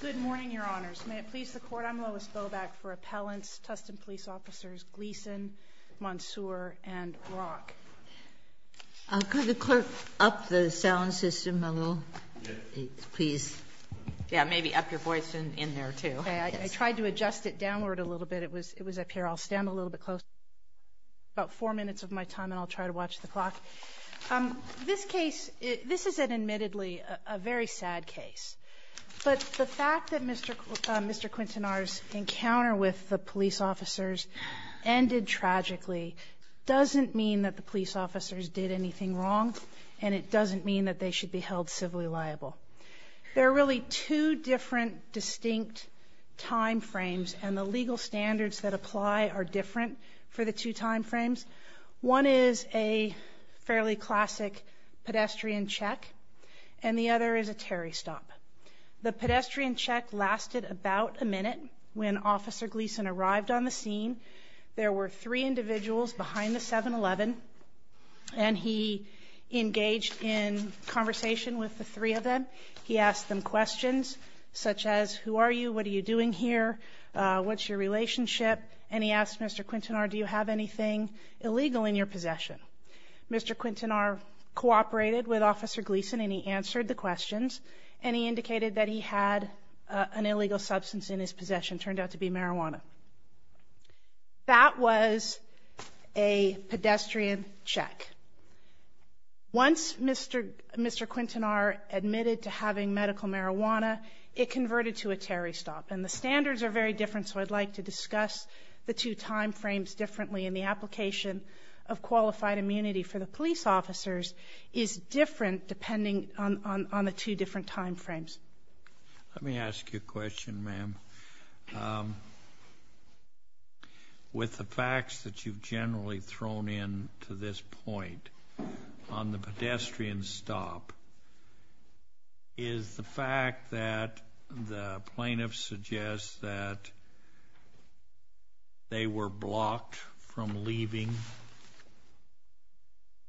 Good morning, your honors. May it please the court, I'm Lois Boback for Appellants, Tustin Police Officers Gleason, Monsoor, and Rock. Could the clerk up the sound system a little, please? Yeah, maybe up your voice in there too. I tried to adjust it downward a little bit. It was up here. I'll stand a little bit closer. About four minutes of my time and I'll try to watch the clock. This case, this is admittedly a very sad case, but the fact that Mr. Quintanar's encounter with the police officers ended tragically doesn't mean that the police officers did anything wrong and it doesn't mean that they should be held civilly liable. There are really two different distinct time frames and the legal standards that apply are different for the two time frames. One is a fairly classic pedestrian check and the other is a Terry stop. The pedestrian check lasted about a minute when Officer Gleason arrived on the scene. There were three individuals behind the 7-Eleven and he engaged in conversation with the three of them. He asked them questions such as, who are you, what are you doing here, what's your relationship, and he asked Mr. Quintanar, do you have anything illegal in your possession? Mr. Quintanar cooperated with Officer Gleason and he answered the questions and he indicated that he had an illegal substance in his possession, turned out to be marijuana. That was a pedestrian check. Once Mr. Quintanar admitted to having medical marijuana, it converted to a Terry stop and the standards are very different so I'd like to discuss the two time frames differently and the application of qualified immunity for the police officers is different depending on the two different time frames. Let me ask you a question ma'am. With the facts that you've generally thrown in to this point on the pedestrian stop, is the fact that the plaintiff suggests that they were blocked from leaving,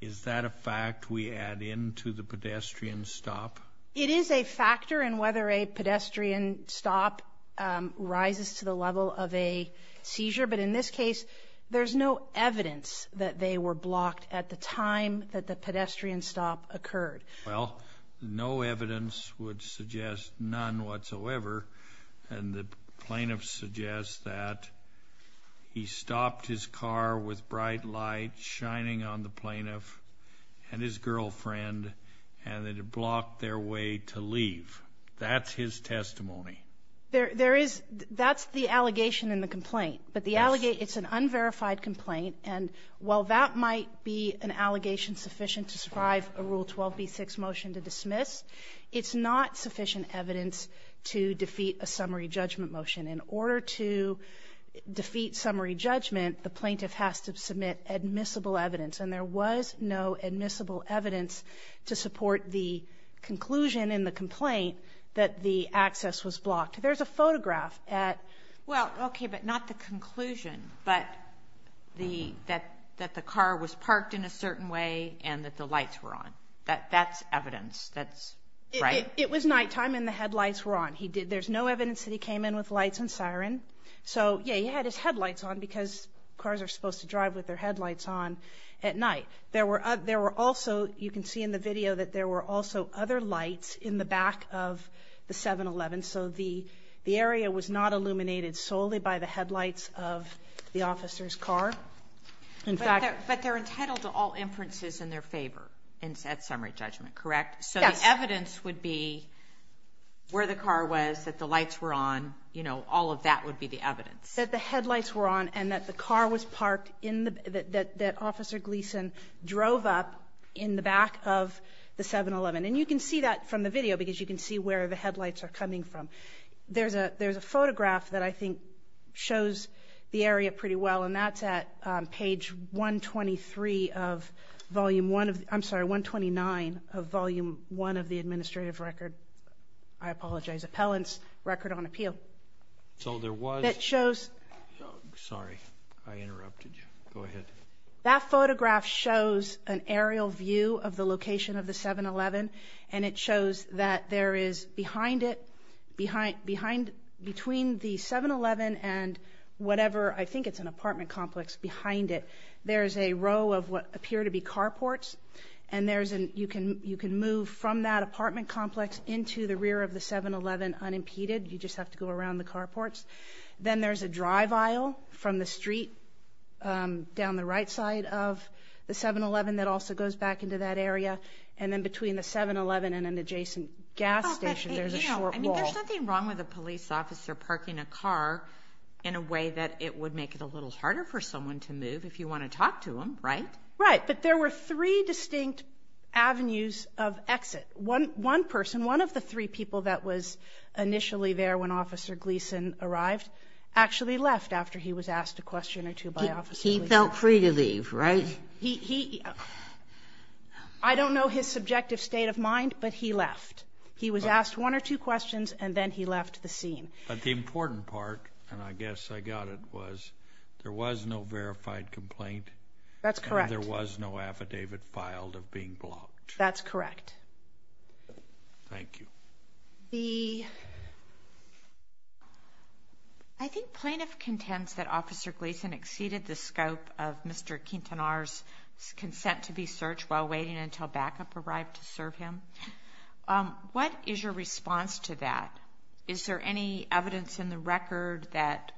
is that a fact we add in to the pedestrian stop? It is a factor in whether a pedestrian stop rises to the level of a seizure, but in this case there's no evidence that they were blocked at the time that the pedestrian stop occurred. Well, no evidence would suggest none whatsoever and the plaintiff suggests that he stopped his car with bright lights shining on the plaintiff and his girlfriend and that it blocked their way to leave. That's his testimony. There is, that's the allegation in the complaint, but the allegation, it's an unverified complaint and while that might be an allegation sufficient to strive a Rule 12b6 motion to dismiss, it's not sufficient evidence to defeat a summary judgment motion. In order to defeat summary judgment, the plaintiff has to submit admissible evidence and there was no admissible evidence to support the conclusion in the complaint that the access was blocked. There's a photograph at. Well, okay, but not the conclusion, but the that the car was parked in a certain way and that the lights were on. That's evidence. That's right. It was nighttime and the headlights were on. He did. There's no evidence that he came in with lights and siren. So yeah, he had his headlights on because cars are supposed to drive with their headlights on at night. There were, there were also, you can see in the video that there were also other lights in the back of the 7-Eleven. So the area was not illuminated solely by the headlights of the officer's car. In fact, but they're entitled to all inferences in their favor and said summary judgment, correct? So the evidence would be where the car was, that the lights were on, you know, all of that would be the evidence that the headlights were on and that the car was parked in the, that, that officer Gleason drove up in the back of the 7-Eleven. And you can see that from the video because you can see where the I think shows the area pretty well. And that's at page 123 of volume one of the, I'm sorry, 129 of volume one of the administrative record. I apologize, appellant's record on appeal. So there was, it shows, sorry, I interrupted you. Go ahead. That photograph shows an aerial view of the location of the 7-Eleven and it shows that there is behind it, behind, behind, between the 7-Eleven and whatever, I think it's an apartment complex behind it. There's a row of what appear to be carports and there's an, you can, you can move from that apartment complex into the rear of the 7-Eleven unimpeded. You just have to go around the carports. Then there's a drive aisle from the street down the right side of the 7-Eleven that also goes back into that area. And then between the 7-Eleven and an adjacent gas station, there's a short wall. I mean, there's nothing wrong with a police officer parking a car in a way that it would make it a little harder for someone to move if you want to talk to them, right? Right, but there were three distinct avenues of exit. One, one person, one of the three people that was initially there when Officer Gleason arrived actually left after he was asked a question or two by Officer Gleason. He felt free to leave, right? He, he, I don't know his subjective state of mind, but he left. He was asked one or two questions and then he left the scene. But the important part, and I guess I got it, was there was no verified complaint. That's correct. There was no affidavit filed of being blocked. That's correct. Thank you. The, I think plaintiff contends that Officer Gleason exceeded the scope of Mr. Quintanar's consent to be searched while waiting until backup arrived to serve him. What is your response to that? Is there any evidence in the record that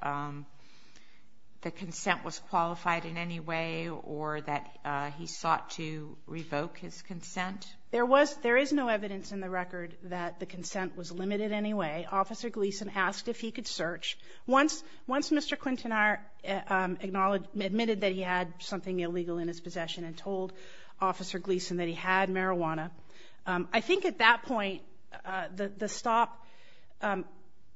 the consent was qualified in any way or that he sought to revoke his consent? There was, there is no evidence in the record that the consent was limited in any way. Officer Gleason asked if he could search. Once, once Mr. Quintanar acknowledged, admitted that he had something illegal in his possession and told Officer Gleason that he had marijuana, I think at that point the stop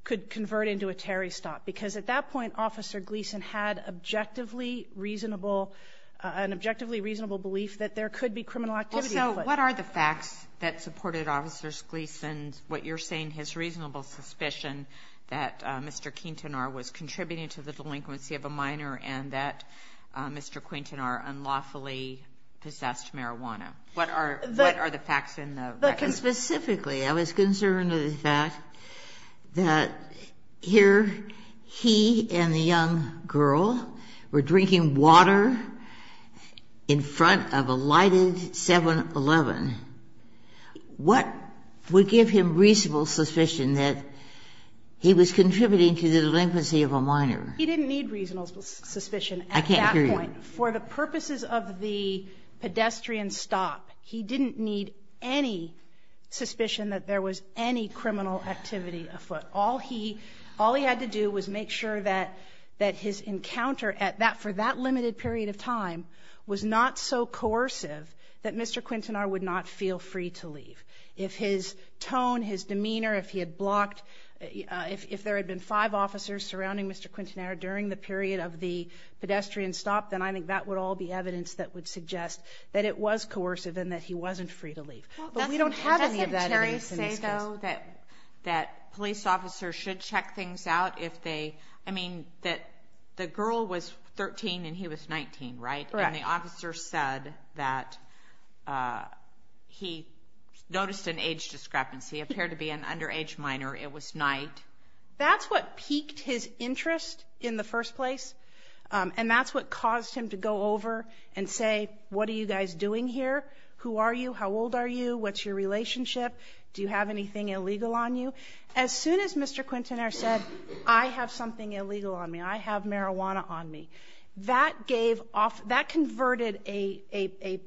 could convert into a Terry stop because at that point Officer Gleason had objectively reasonable, an objectively reasonable belief that there could be criminal activity. So what are the facts that supported Officer Gleason's, what you're saying, his reasonable suspicion that Mr. Quintanar was contributing to the delinquency of a minor and that Mr. Quintanar unlawfully possessed marijuana? What are, what are the facts in the record? Specifically, I was concerned with the fact that here he and the young girl were drinking water in front of a lighted 7-Eleven. What would give him reasonable suspicion that he was contributing to the delinquency of a minor? He didn't need reasonable suspicion. I can't hear you. For the purposes of the pedestrian stop, he didn't need any suspicion that there was any criminal activity afoot. All he, all he had to do was make sure that, that his encounter at that, for that limited period of time, was not so coercive that Mr. Quintanar would not feel free to leave. If his tone, his demeanor, if he had blocked, if there had been five officers surrounding Mr. Quintanar during the period of the pedestrian stop, then I think that would all be evidence that would suggest that it was coercive and that he wasn't free to leave. But we don't have any of that evidence in this case. Doesn't Terry say, though, that, that police officers should check things out if they, I mean, that the girl was 13 and he was 19, right? Correct. And the officer said that he noticed an age discrepancy, appeared to be an underage minor, it was night. That's what piqued his interest in the first place. And that's what caused him to go over and say, what are you guys doing here? Who are you? How old are you? What's your relationship? Do you have anything illegal on you? As soon as Mr. Quintanar said, I have something illegal on me. I have marijuana on me. That gave off, that converted a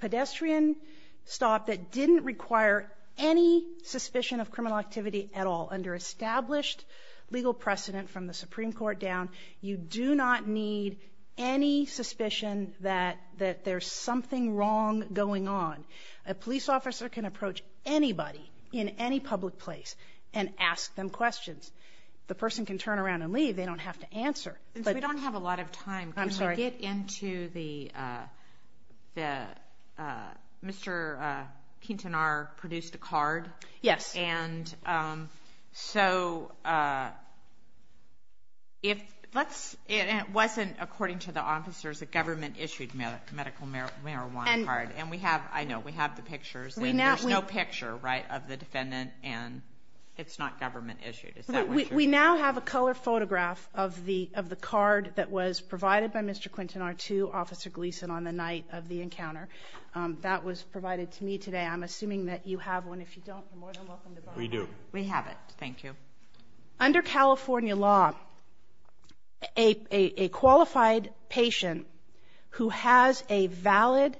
pedestrian stop that didn't require any suspicion of criminal activity at all. Under established legal precedent from the Supreme Court down, you do not need any suspicion that there's something wrong going on. A police officer can approach anybody in any public place and ask them questions. The person can turn around and leave. They don't have to answer. We don't have a lot of time. I'm sorry. Can we get into the Mr. Quintanar produced a card? Yes. And so if let's, it wasn't according to the officers, a government issued medical marijuana card. And we have, I know, we have the pictures. There's no picture, right, of the defendant and it's not government issued. We now have a color photograph of the card that was provided by Mr. Quintanar to Officer Gleason on the night of the encounter. That was provided to me today. I'm assuming that you have one. If you don't, you're more than welcome to go. We do. We have it. Thank you. Under California law, a qualified patient who has a valid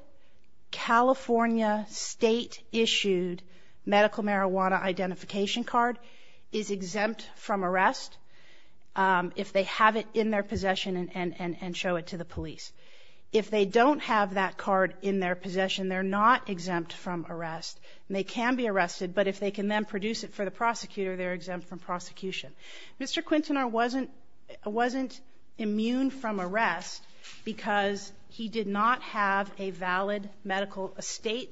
California state issued medical marijuana identification card is exempt from arrest if they have it in their possession and show it to the police. If they don't have that card in their possession, they're not exempt from arrest. And they can be arrested, but if they can then produce it for the prosecutor, they're exempt from prosecution. Mr. Quintanar wasn't immune from arrest because he did not have a valid medical state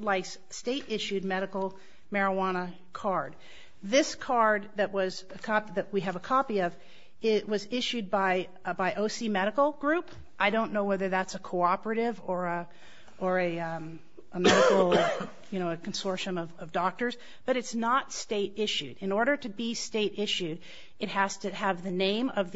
issued medical marijuana card. This card that was a copy, that we have a copy of, it was issued by OC Medical Group. I don't know whether that's a cooperative or a medical consortium of doctors, but it's not state issued. In order to be state issued, it has to have the name of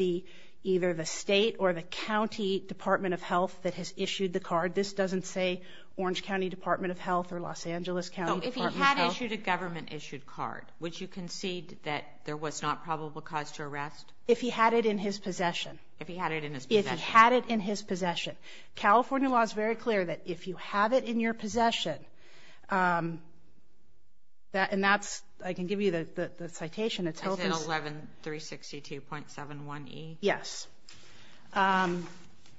either the state or the county Department of Health that has issued the card. This doesn't say Orange County Department of Health or Los Angeles County Department of Health. If he had issued a government issued card, would you concede that there was not probable cause to arrest? If he had it in his possession. If he had it in his possession. If he had it in his possession. California law is very clear that if you have it in your possession, and that's, I can give you the citation. It's in 11362.71E? Yes.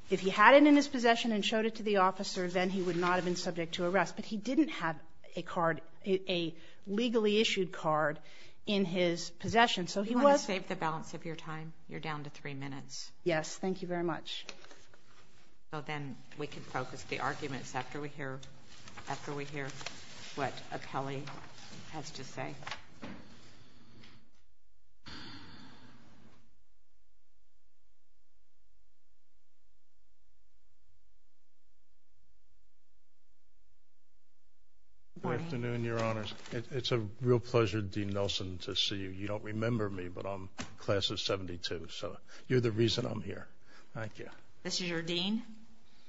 If he had it in his possession and showed it to the officer, then he would not have been subject to arrest. But he didn't have a card, a legally issued card in his possession. Do you want to save the balance of your time? You're down to three minutes. Yes, thank you very much. So then we can focus the arguments after we hear what Apelli has to say. Good afternoon, Your Honors. It's a real pleasure, Dean Nelson, to see you. You don't remember me, but I'm class of 72. So you're the reason I'm here. Thank you. This is your dean?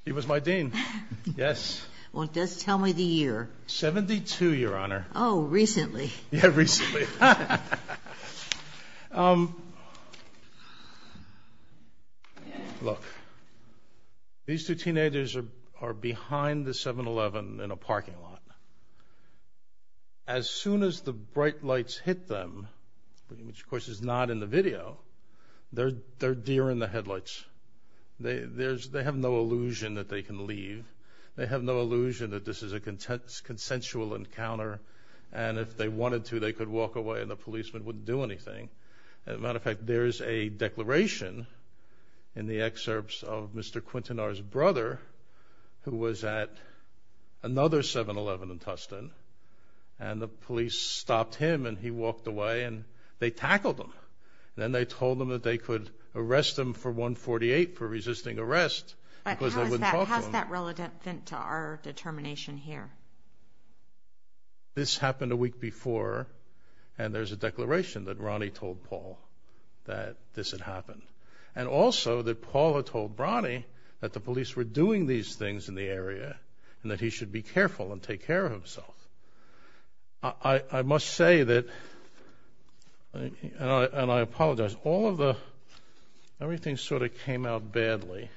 He was my dean, yes. Well, just tell me the year. 72, Your Honor. Oh, recently. Yeah, recently. Look, these two teenagers are behind the 7-Eleven in a parking lot. As soon as the bright lights hit them, which, of course, is not in the video, they're deer in the headlights. They have no illusion that they can leave. They have no illusion that this is a consensual encounter, and if they wanted to they could walk away and the policeman wouldn't do anything. As a matter of fact, there is a declaration in the excerpts of Mr. Quintanar's brother, who was at another 7-Eleven in Tustin, and the police stopped him and he walked away and they tackled him. Then they told him that they could arrest him for 148 for resisting arrest because they wouldn't talk to him. How is that relevant to our determination here? This happened a week before, and also that Paula told Brani that the police were doing these things in the area and that he should be careful and take care of himself. I must say that, and I apologize, everything sort of came out badly,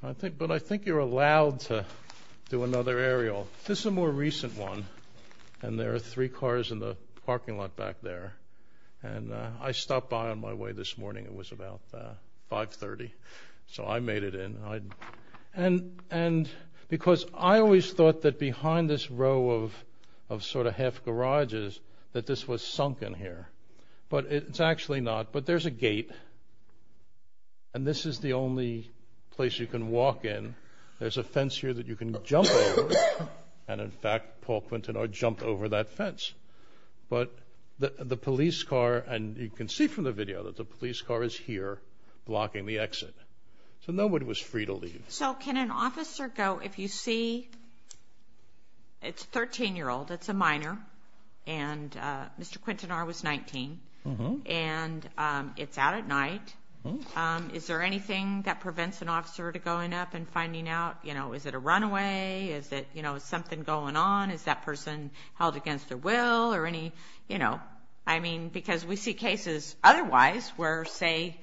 but I think you're allowed to do another aerial. This is a more recent one, and there are three cars in the parking lot back there, and I stopped by on my way this morning. It was about 5.30, so I made it in. And because I always thought that behind this row of sort of half garages that this was sunken here, but it's actually not. But there's a gate, and this is the only place you can walk in. There's a fence here that you can jump over, and in fact Paul Quintanar jumped over that fence. But the police car, and you can see from the video that the police car is here blocking the exit. So nobody was free to leave. So can an officer go, if you see, it's a 13-year-old, it's a minor, and Mr. Quintanar was 19, and it's out at night. Is there anything that prevents an officer from going up and finding out, you know, is it a runaway, is something going on, is that person held against their will or any, you know. I mean, because we see cases otherwise where, say,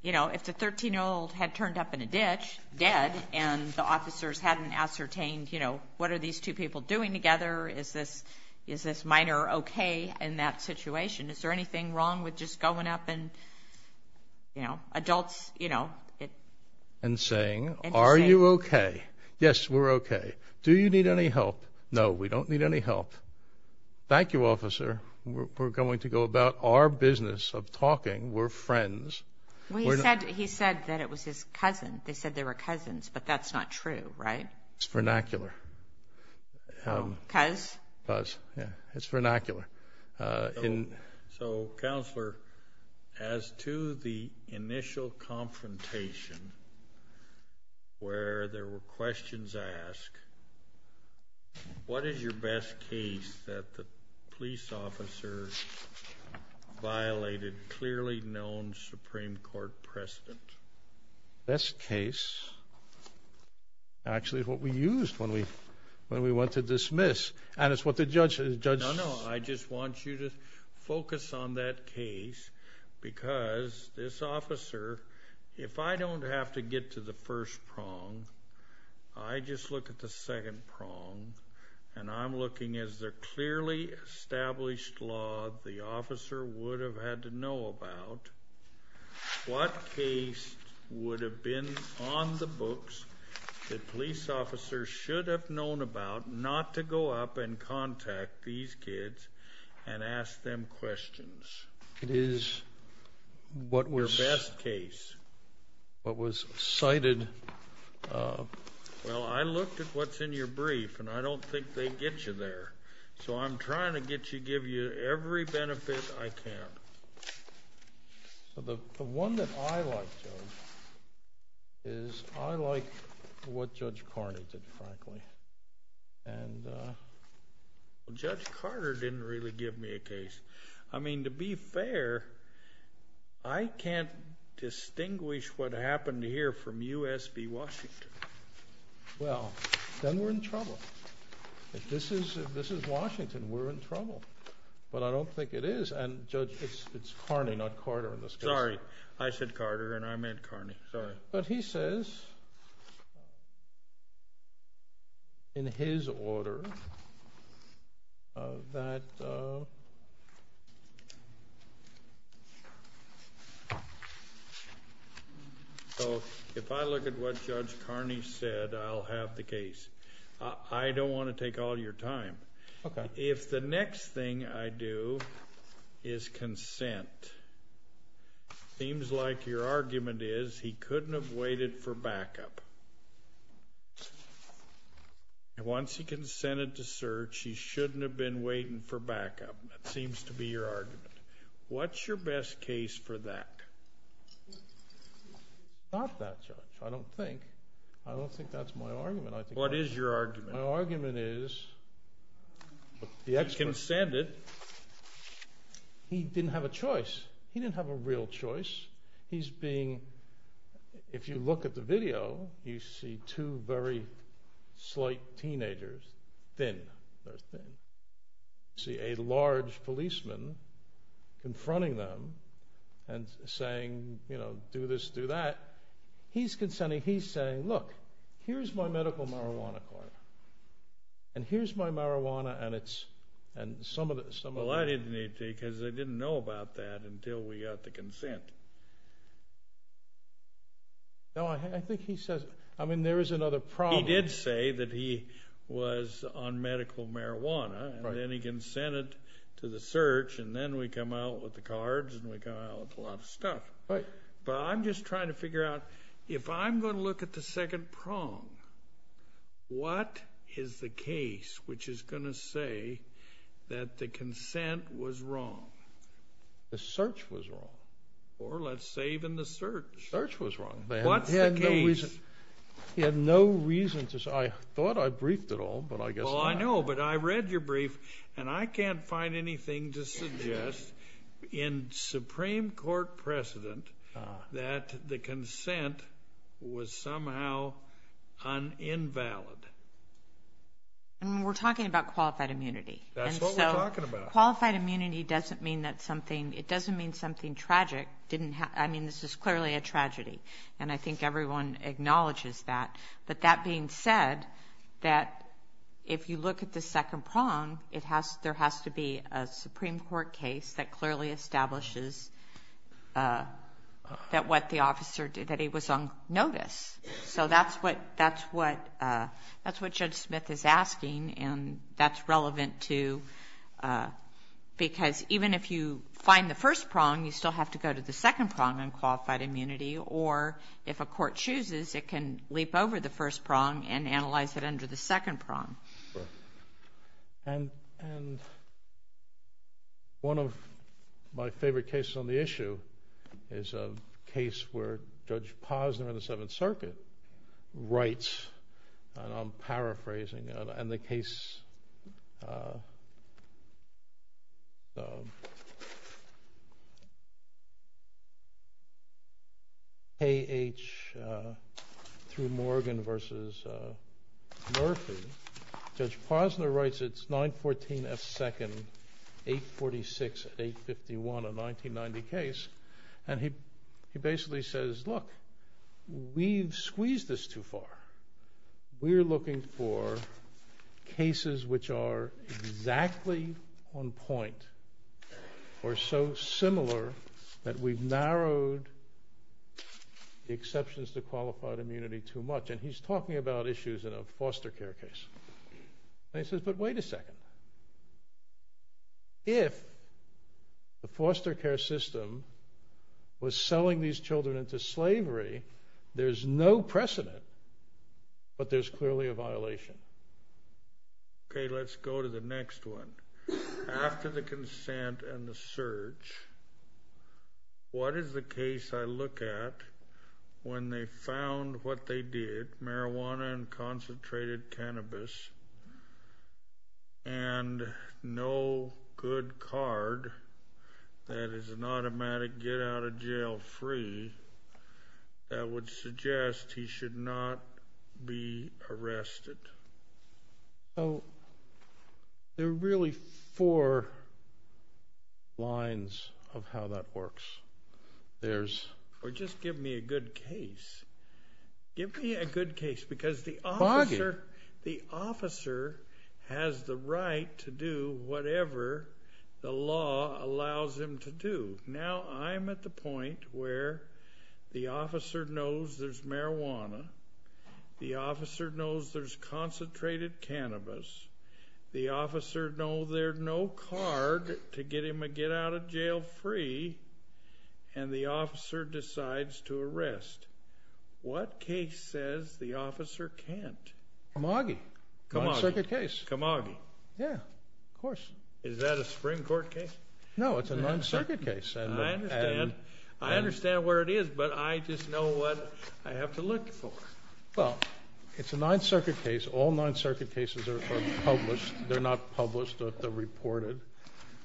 you know, if the 13-year-old had turned up in a ditch, dead, and the officers hadn't ascertained, you know, what are these two people doing together, is this minor okay in that situation. Is there anything wrong with just going up and, you know, adults, you know. And saying, are you okay? Yes, we're okay. Do you need any help? No, we don't need any help. Thank you, officer. We're going to go about our business of talking. We're friends. He said that it was his cousin. They said they were cousins, but that's not true, right? It's vernacular. Cuz? Cuz, yeah. It's vernacular. So, Counselor, as to the initial confrontation where there were questions asked, what is your best case that the police officer violated clearly known Supreme Court precedent? Best case actually is what we used when we went to dismiss, and it's what the judge said. No, no. I just want you to focus on that case because this officer, if I don't have to get to the first prong, I just look at the second prong, and I'm looking as the clearly established law the officer would have had to know about, what case would have been on the books that police officers should have known about not to go up and contact these kids and ask them questions. It is what was cited. Well, I looked at what's in your brief, and I don't think they get you there. So I'm trying to give you every benefit I can. So the one that I like, Joe, is I like what Judge Carter did, frankly. And Judge Carter didn't really give me a case. I mean, to be fair, I can't distinguish what happened here from U.S. v. Washington. Well, then we're in trouble. But I don't think it is. And, Judge, it's Carney, not Carter in this case. Sorry. I said Carter, and I meant Carney. Sorry. But he says in his order that if I look at what Judge Carney said, I'll have the case. I don't want to take all your time. Okay. If the next thing I do is consent, it seems like your argument is he couldn't have waited for backup. And once he consented to search, he shouldn't have been waiting for backup. That seems to be your argument. What's your best case for that? Not that, Judge. I don't think. What is your argument? My argument is the expert. He consented. He didn't have a choice. He didn't have a real choice. He's being, if you look at the video, you see two very slight teenagers, thin, very thin. You see a large policeman confronting them and saying, you know, do this, do that. He's consenting. He's saying, look, here's my medical marijuana card, and here's my marijuana and some of it. Well, I didn't need to because I didn't know about that until we got the consent. No, I think he says, I mean, there is another problem. He did say that he was on medical marijuana, and then he consented to the search, and then we come out with the cards, and we come out with a lot of stuff. Right. But I'm just trying to figure out, if I'm going to look at the second prong, what is the case which is going to say that the consent was wrong? The search was wrong. Or let's say even the search. The search was wrong. What's the case? He had no reason to say. I thought I briefed it all, but I guess not. Well, I know, but I read your brief, and I can't find anything to suggest in Supreme Court precedent that the consent was somehow invalid. We're talking about qualified immunity. That's what we're talking about. Qualified immunity doesn't mean that something, it doesn't mean something tragic didn't happen. I mean, this is clearly a tragedy, and I think everyone acknowledges that. But that being said, that if you look at the second prong, there has to be a Supreme Court case that clearly establishes that what the officer did, that he was on notice. So that's what Judge Smith is asking, and that's relevant to, because even if you find the first prong, you still have to go to the second prong on qualified immunity. Or if a court chooses, it can leap over the first prong and analyze it under the second prong. And one of my favorite cases on the issue is a case where Judge Posner in the Seventh Circuit writes, and I'm paraphrasing, and the case. K.H. through Morgan versus Murphy. Judge Posner writes, it's 914 F. Second, 846, 851, a 1990 case. And he basically says, look, we've squeezed this too far. We're looking for cases which are exactly on point or so similar that we've narrowed the exceptions to qualified immunity too much. And he's talking about issues in a foster care case. And he says, but wait a second. If the foster care system was selling these children into slavery, there's no precedent, but there's clearly a violation. Okay, let's go to the next one. After the consent and the search, what is the case I look at when they found what they did, marijuana and concentrated cannabis, and no good card that is an automatic get out of jail free that would suggest he should not be arrested? So there are really four lines of how that works. Or just give me a good case. Give me a good case, because the officer has the right to do whatever the law allows him to do. Now I'm at the point where the officer knows there's marijuana. The officer knows there's concentrated cannabis. The officer knows there's no card to get him a get out of jail free. And the officer decides to arrest. What case says the officer can't? Kamagi. Kamagi. Non-circuit case. Kamagi. Yeah, of course. Is that a Supreme Court case? No, it's a non-circuit case. I understand where it is, but I just know what I have to look for. Well, it's a non-circuit case. All non-circuit cases are published. They're not published. They're reported.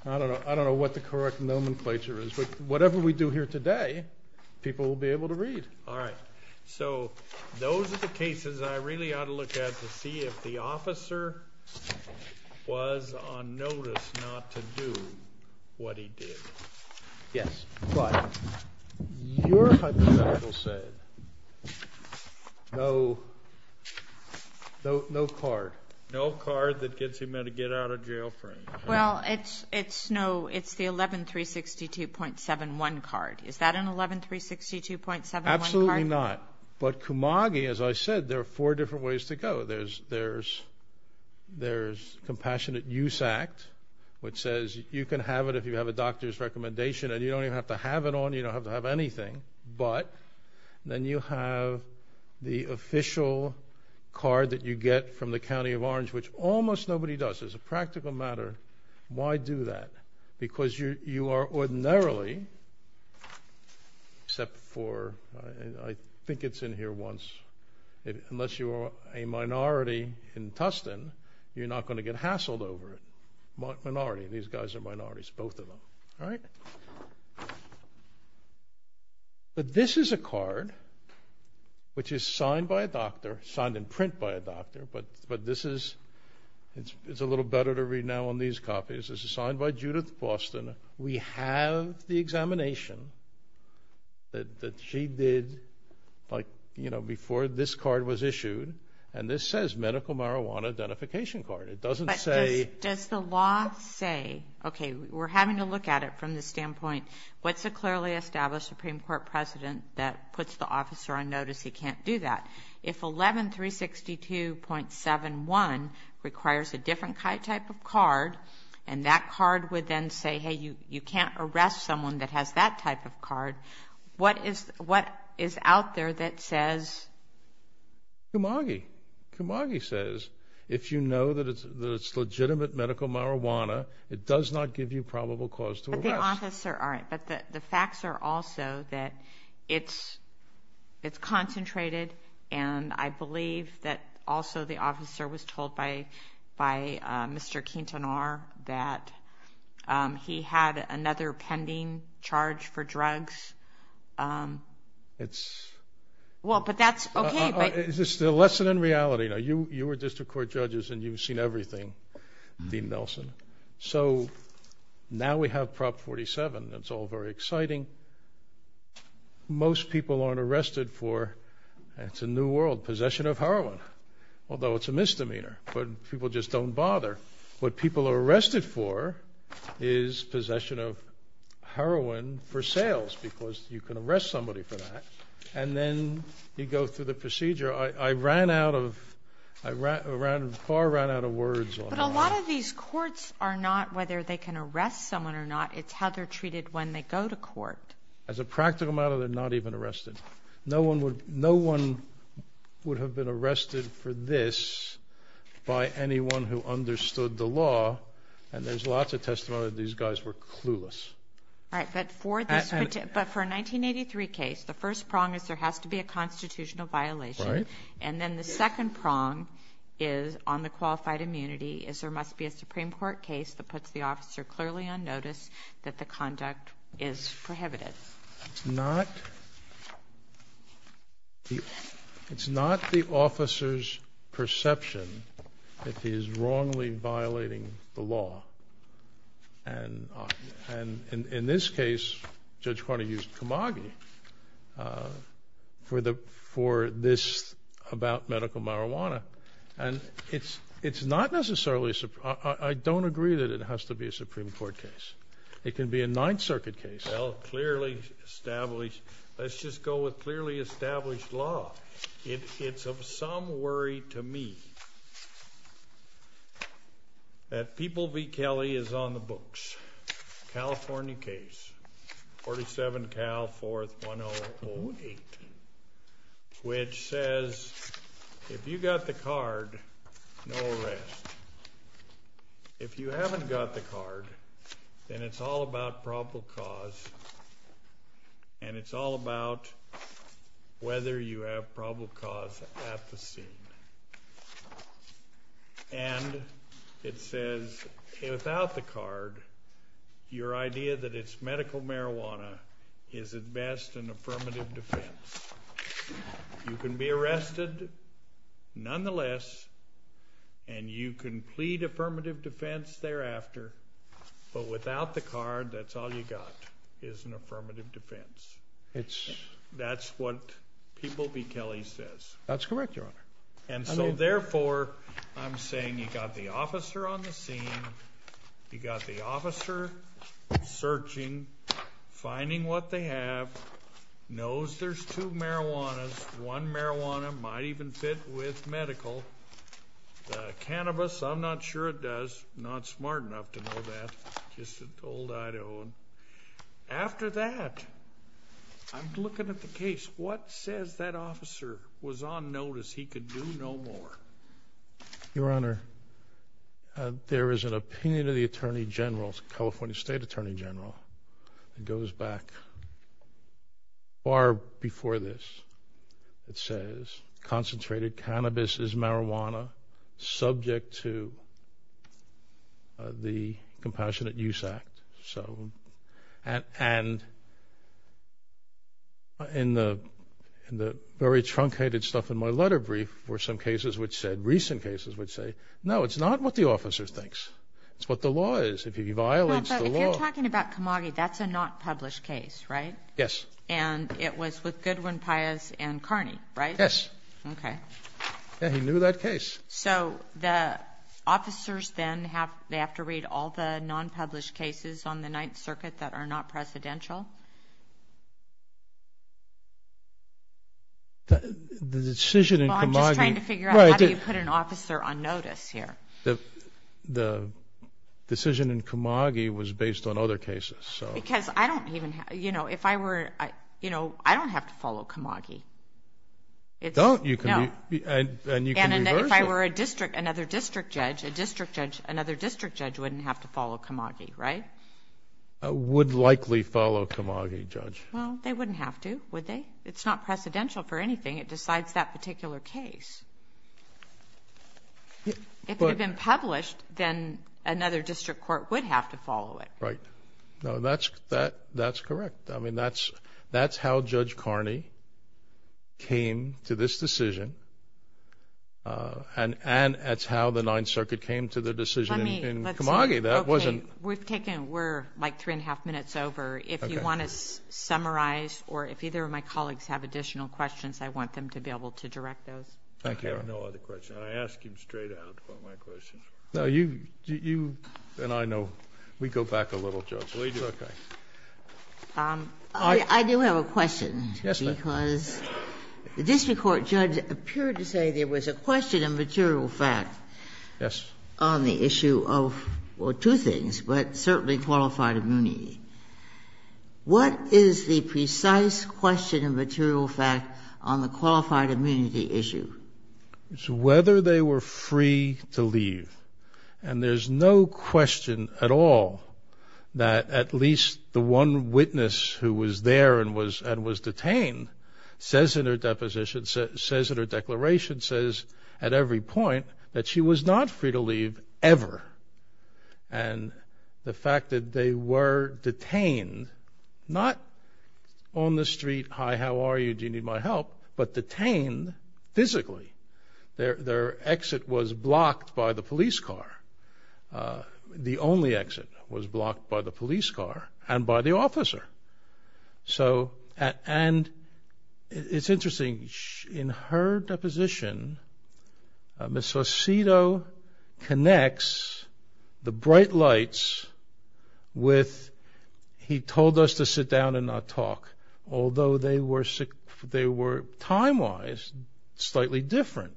I don't know what the correct nomenclature is, but whatever we do here today, people will be able to read. All right. So those are the cases I really ought to look at to see if the officer was on notice not to do what he did. Yes. But your hypothetical said no card. No card that gets him a get out of jail free. Well, it's the 11362.71 card. Is that an 11362.71 card? Absolutely not. But Kamagi, as I said, there are four different ways to go. There's Compassionate Use Act, which says you can have it if you have a doctor's recommendation, and you don't even have to have it on. You don't have to have anything. But then you have the official card that you get from the County of Orange, which almost nobody does. As a practical matter, why do that? Because you are ordinarily, except for I think it's in here once, unless you are a minority in Tustin, you're not going to get hassled over it. Minority. These guys are minorities, both of them. All right. But this is a card which is signed by a doctor, signed in print by a doctor, but this is a little better to read now on these copies. This is signed by Judith Boston. We have the examination that she did before this card was issued, and this says medical marijuana identification card. Does the law say, okay, we're having to look at it from the standpoint, what's a clearly established Supreme Court precedent that puts the officer on notice he can't do that? If 11362.71 requires a different type of card and that card would then say, hey, you can't arrest someone that has that type of card, what is out there that says? Kumagi. Kumagi says if you know that it's legitimate medical marijuana, it does not give you probable cause to arrest. But the facts are also that it's concentrated, and I believe that also the officer was told by Mr. Quintanar that he had another pending charge for drugs. It's the lesson in reality. You were district court judges and you've seen everything, Dean Nelson. So now we have Prop 47. It's all very exciting. Most people aren't arrested for, it's a new world, possession of heroin, although it's a misdemeanor, but people just don't bother. What people are arrested for is possession of heroin for sales because you can arrest somebody for that, and then you go through the procedure. But a lot of these courts are not whether they can arrest someone or not, it's how they're treated when they go to court. As a practical matter, they're not even arrested. No one would have been arrested for this by anyone who understood the law, and there's lots of testimony that these guys were clueless. But for a 1983 case, the first prong is there has to be a constitutional violation, and then the second prong is on the qualified immunity, is there must be a Supreme Court case that puts the officer clearly on notice that the conduct is prohibited. It's not the officer's perception that he is wrongly violating the law. And in this case, Judge Carney used Kamagi for this about medical marijuana, and it's not necessarily a Supreme Court case. I don't agree that it has to be a Supreme Court case. It can be a Ninth Circuit case. Well, clearly established. Let's just go with clearly established law. It's of some worry to me that People v. Kelly is on the books, California case, 47 Cal 41008, which says if you got the card, no arrest. If you haven't got the card, then it's all about probable cause, and it's all about whether you have probable cause at the scene. And it says without the card, your idea that it's medical marijuana is at best an affirmative defense. You can be arrested nonetheless, and you can plead affirmative defense thereafter, but without the card, that's all you got is an affirmative defense. That's what People v. Kelly says. That's correct, Your Honor. And so, therefore, I'm saying you got the officer on the scene, you got the officer searching, finding what they have, knows there's two marijuanas, one marijuana might even fit with medical, the cannabis, I'm not sure it does. Not smart enough to know that. Just an old Idahoan. After that, I'm looking at the case. What says that officer was on notice, he could do no more? Your Honor, there is an opinion of the Attorney General, California State Attorney General, that goes back far before this. It says, concentrated cannabis is marijuana subject to the Compassionate Use Act. And in the very truncated stuff in my letter brief were some cases which said, recent cases which say, no, it's not what the officer thinks. It's what the law is. If he violates the law. But if you're talking about Comagi, that's a not published case, right? Yes. And it was with Goodwin, Pius, and Carney, right? Yes. Okay. Yeah, he knew that case. So the officers then have to read all the non-published cases on the Ninth Circuit that are not presidential? The decision in Comagi. Well, I'm just trying to figure out how do you put an officer on notice here? The decision in Comagi was based on other cases. Because I don't even have to follow Comagi. Don't. And you can reverse it. And if I were another district judge, another district judge wouldn't have to follow Comagi, right? Would likely follow Comagi, Judge. Well, they wouldn't have to, would they? It's not precedential for anything. It decides that particular case. If it had been published, then another district court would have to follow it. Right. No, that's correct. I mean, that's how Judge Carney came to this decision. And that's how the Ninth Circuit came to the decision in Comagi. We're like three and a half minutes over. If you want to summarize or if either of my colleagues have additional questions, I want them to be able to direct those. Thank you. I have no other questions. I asked him straight out what my questions were. No, you and I know we go back a little, Judge. We do. Okay. I do have a question. Yes, ma'am. Because the district court judge appeared to say there was a question of material fact on the issue of two things, but certainly qualified immunity. What is the precise question of material fact on the qualified immunity issue? It's whether they were free to leave. And there's no question at all that at least the one witness who was there and was detained says in her deposition, says in her declaration, says at every point that she was not free to leave ever. And the fact that they were detained, not on the street, hi, how are you, do you need my help, but detained physically. Their exit was blocked by the police car. The only exit was blocked by the police car and by the officer. And it's interesting, in her deposition, Ms. Faucito connects the bright lights with he told us to sit down and not talk, although they were time-wise slightly different.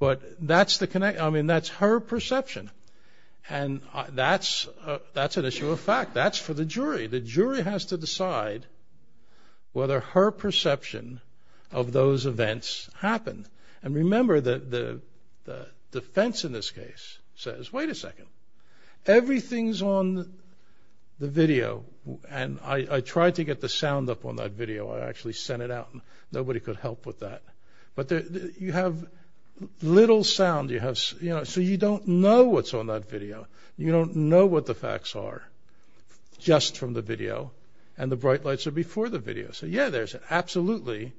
But that's the connection. I mean, that's her perception. And that's an issue of fact. That's for the jury. The jury has to decide whether her perception of those events happened. And remember, the defense in this case says, wait a second, everything's on the video. And I tried to get the sound up on that video. I actually sent it out. Nobody could help with that. But you have little sound. So you don't know what's on that video. You don't know what the facts are just from the video. And the bright lights are before the video. So, yeah, there's absolutely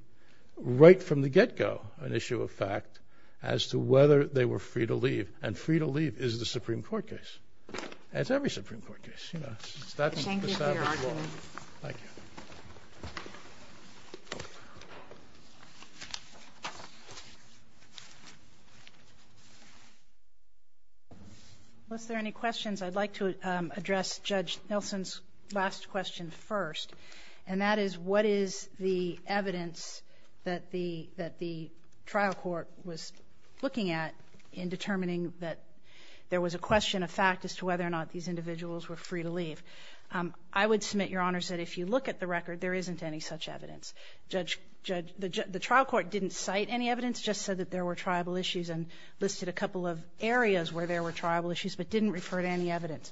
right from the get-go an issue of fact as to whether they were free to leave. And free to leave is the Supreme Court case. It's every Supreme Court case. Thank you for your argument. Thank you. Unless there are any questions, I'd like to address Judge Nelson's last question first, and that is what is the evidence that the trial court was looking at in determining that there was a question of fact as to whether or not these individuals were free to leave? I would submit, Your Honors, that if you look at the record, there isn't any such evidence. The trial court didn't cite any evidence, just said that there were tribal issues and listed a couple of areas where there were tribal issues, but didn't refer to any evidence.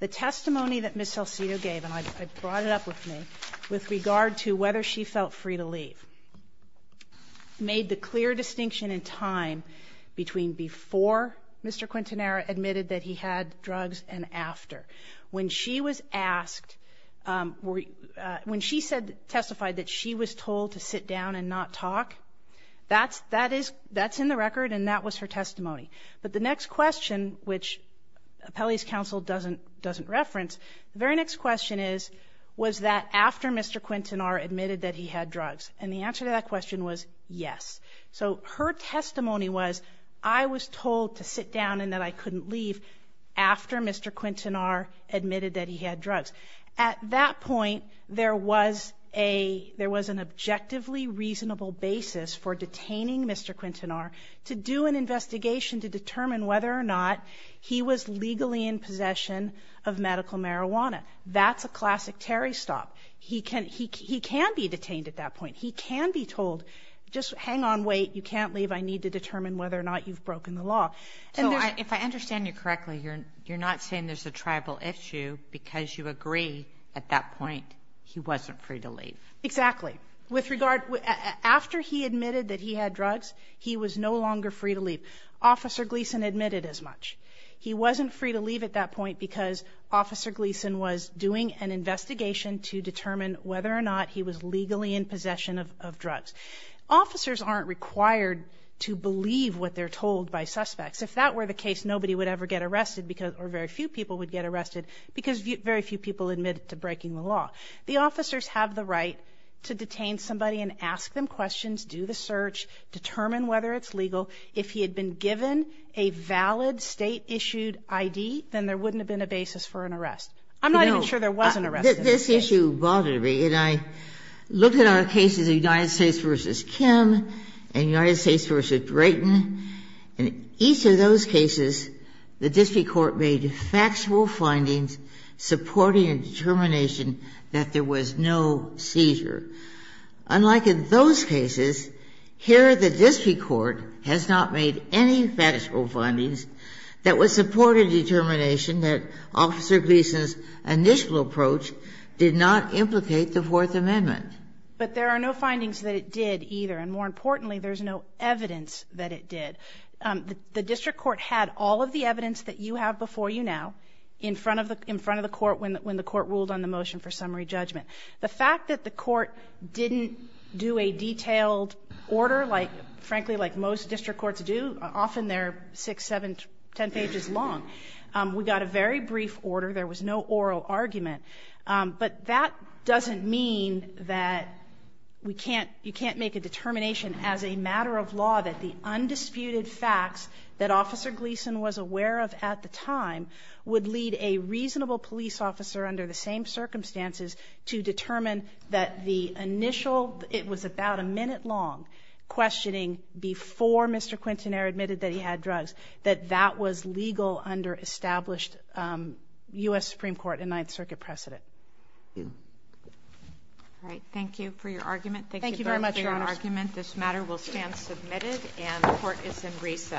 The testimony that Ms. Salcido gave, and I brought it up with me, with regard to whether she felt free to leave, made the clear distinction in time between before Mr. Quintanera admitted that he had drugs and after. When she was asked or when she testified that she was told to sit down and not talk, that's in the record and that was her testimony. But the next question, which Appellee's counsel doesn't reference, the very next question is, was that after Mr. Quintanera admitted that he had drugs? And the answer to that question was yes. So her testimony was, I was told to sit down and that I couldn't leave after Mr. Quintanera admitted that he had drugs. At that point, there was an objectively reasonable basis for detaining Mr. Quintanera to do an investigation to determine whether or not he was legally in possession of medical marijuana. That's a classic Terry stop. He can be detained at that point. He can be told, just hang on, wait, you can't leave. I need to determine whether or not you've broken the law. So if I understand you correctly, you're not saying there's a tribal issue because you agree at that point he wasn't free to leave. Exactly. With regard, after he admitted that he had drugs, he was no longer free to leave. Officer Gleason admitted as much. He wasn't free to leave at that point because Officer Gleason was doing an investigation to determine whether or not he was legally in possession of drugs. Officers aren't required to believe what they're told by suspects. If that were the case, nobody would ever get arrested or very few people would get arrested because very few people admitted to breaking the law. The officers have the right to detain somebody and ask them questions, do the search, determine whether it's legal. If he had been given a valid State-issued ID, then there wouldn't have been a basis for an arrest. I'm not even sure there was an arrest. No. This issue bothered me. And I looked at our cases of United States v. Kim and United States v. Drayton. In each of those cases, the district court made factual findings supporting a determination that there was no seizure. Unlike in those cases, here the district court has not made any factual findings that would support a determination that Officer Gleason's initial approach did not implicate the Fourth Amendment. But there are no findings that it did either. And more importantly, there's no evidence that it did. The district court had all of the evidence that you have before you now in front of the court when the court ruled on the motion for summary judgment. The fact that the court didn't do a detailed order, frankly, like most district courts do, often they're six, seven, ten pages long. We got a very brief order. There was no oral argument. But that doesn't mean that you can't make a determination as a matter of law that the undisputed facts that Officer Gleason was aware of at the time would lead a to determine that the initial, it was about a minute long, questioning before Mr. Quintanilla admitted that he had drugs, that that was legal under established U.S. Supreme Court and Ninth Circuit precedent. All right. Thank you for your argument. Thank you very much, Your Honor. Thank you for your argument. This matter will stand submitted and the court is in recess.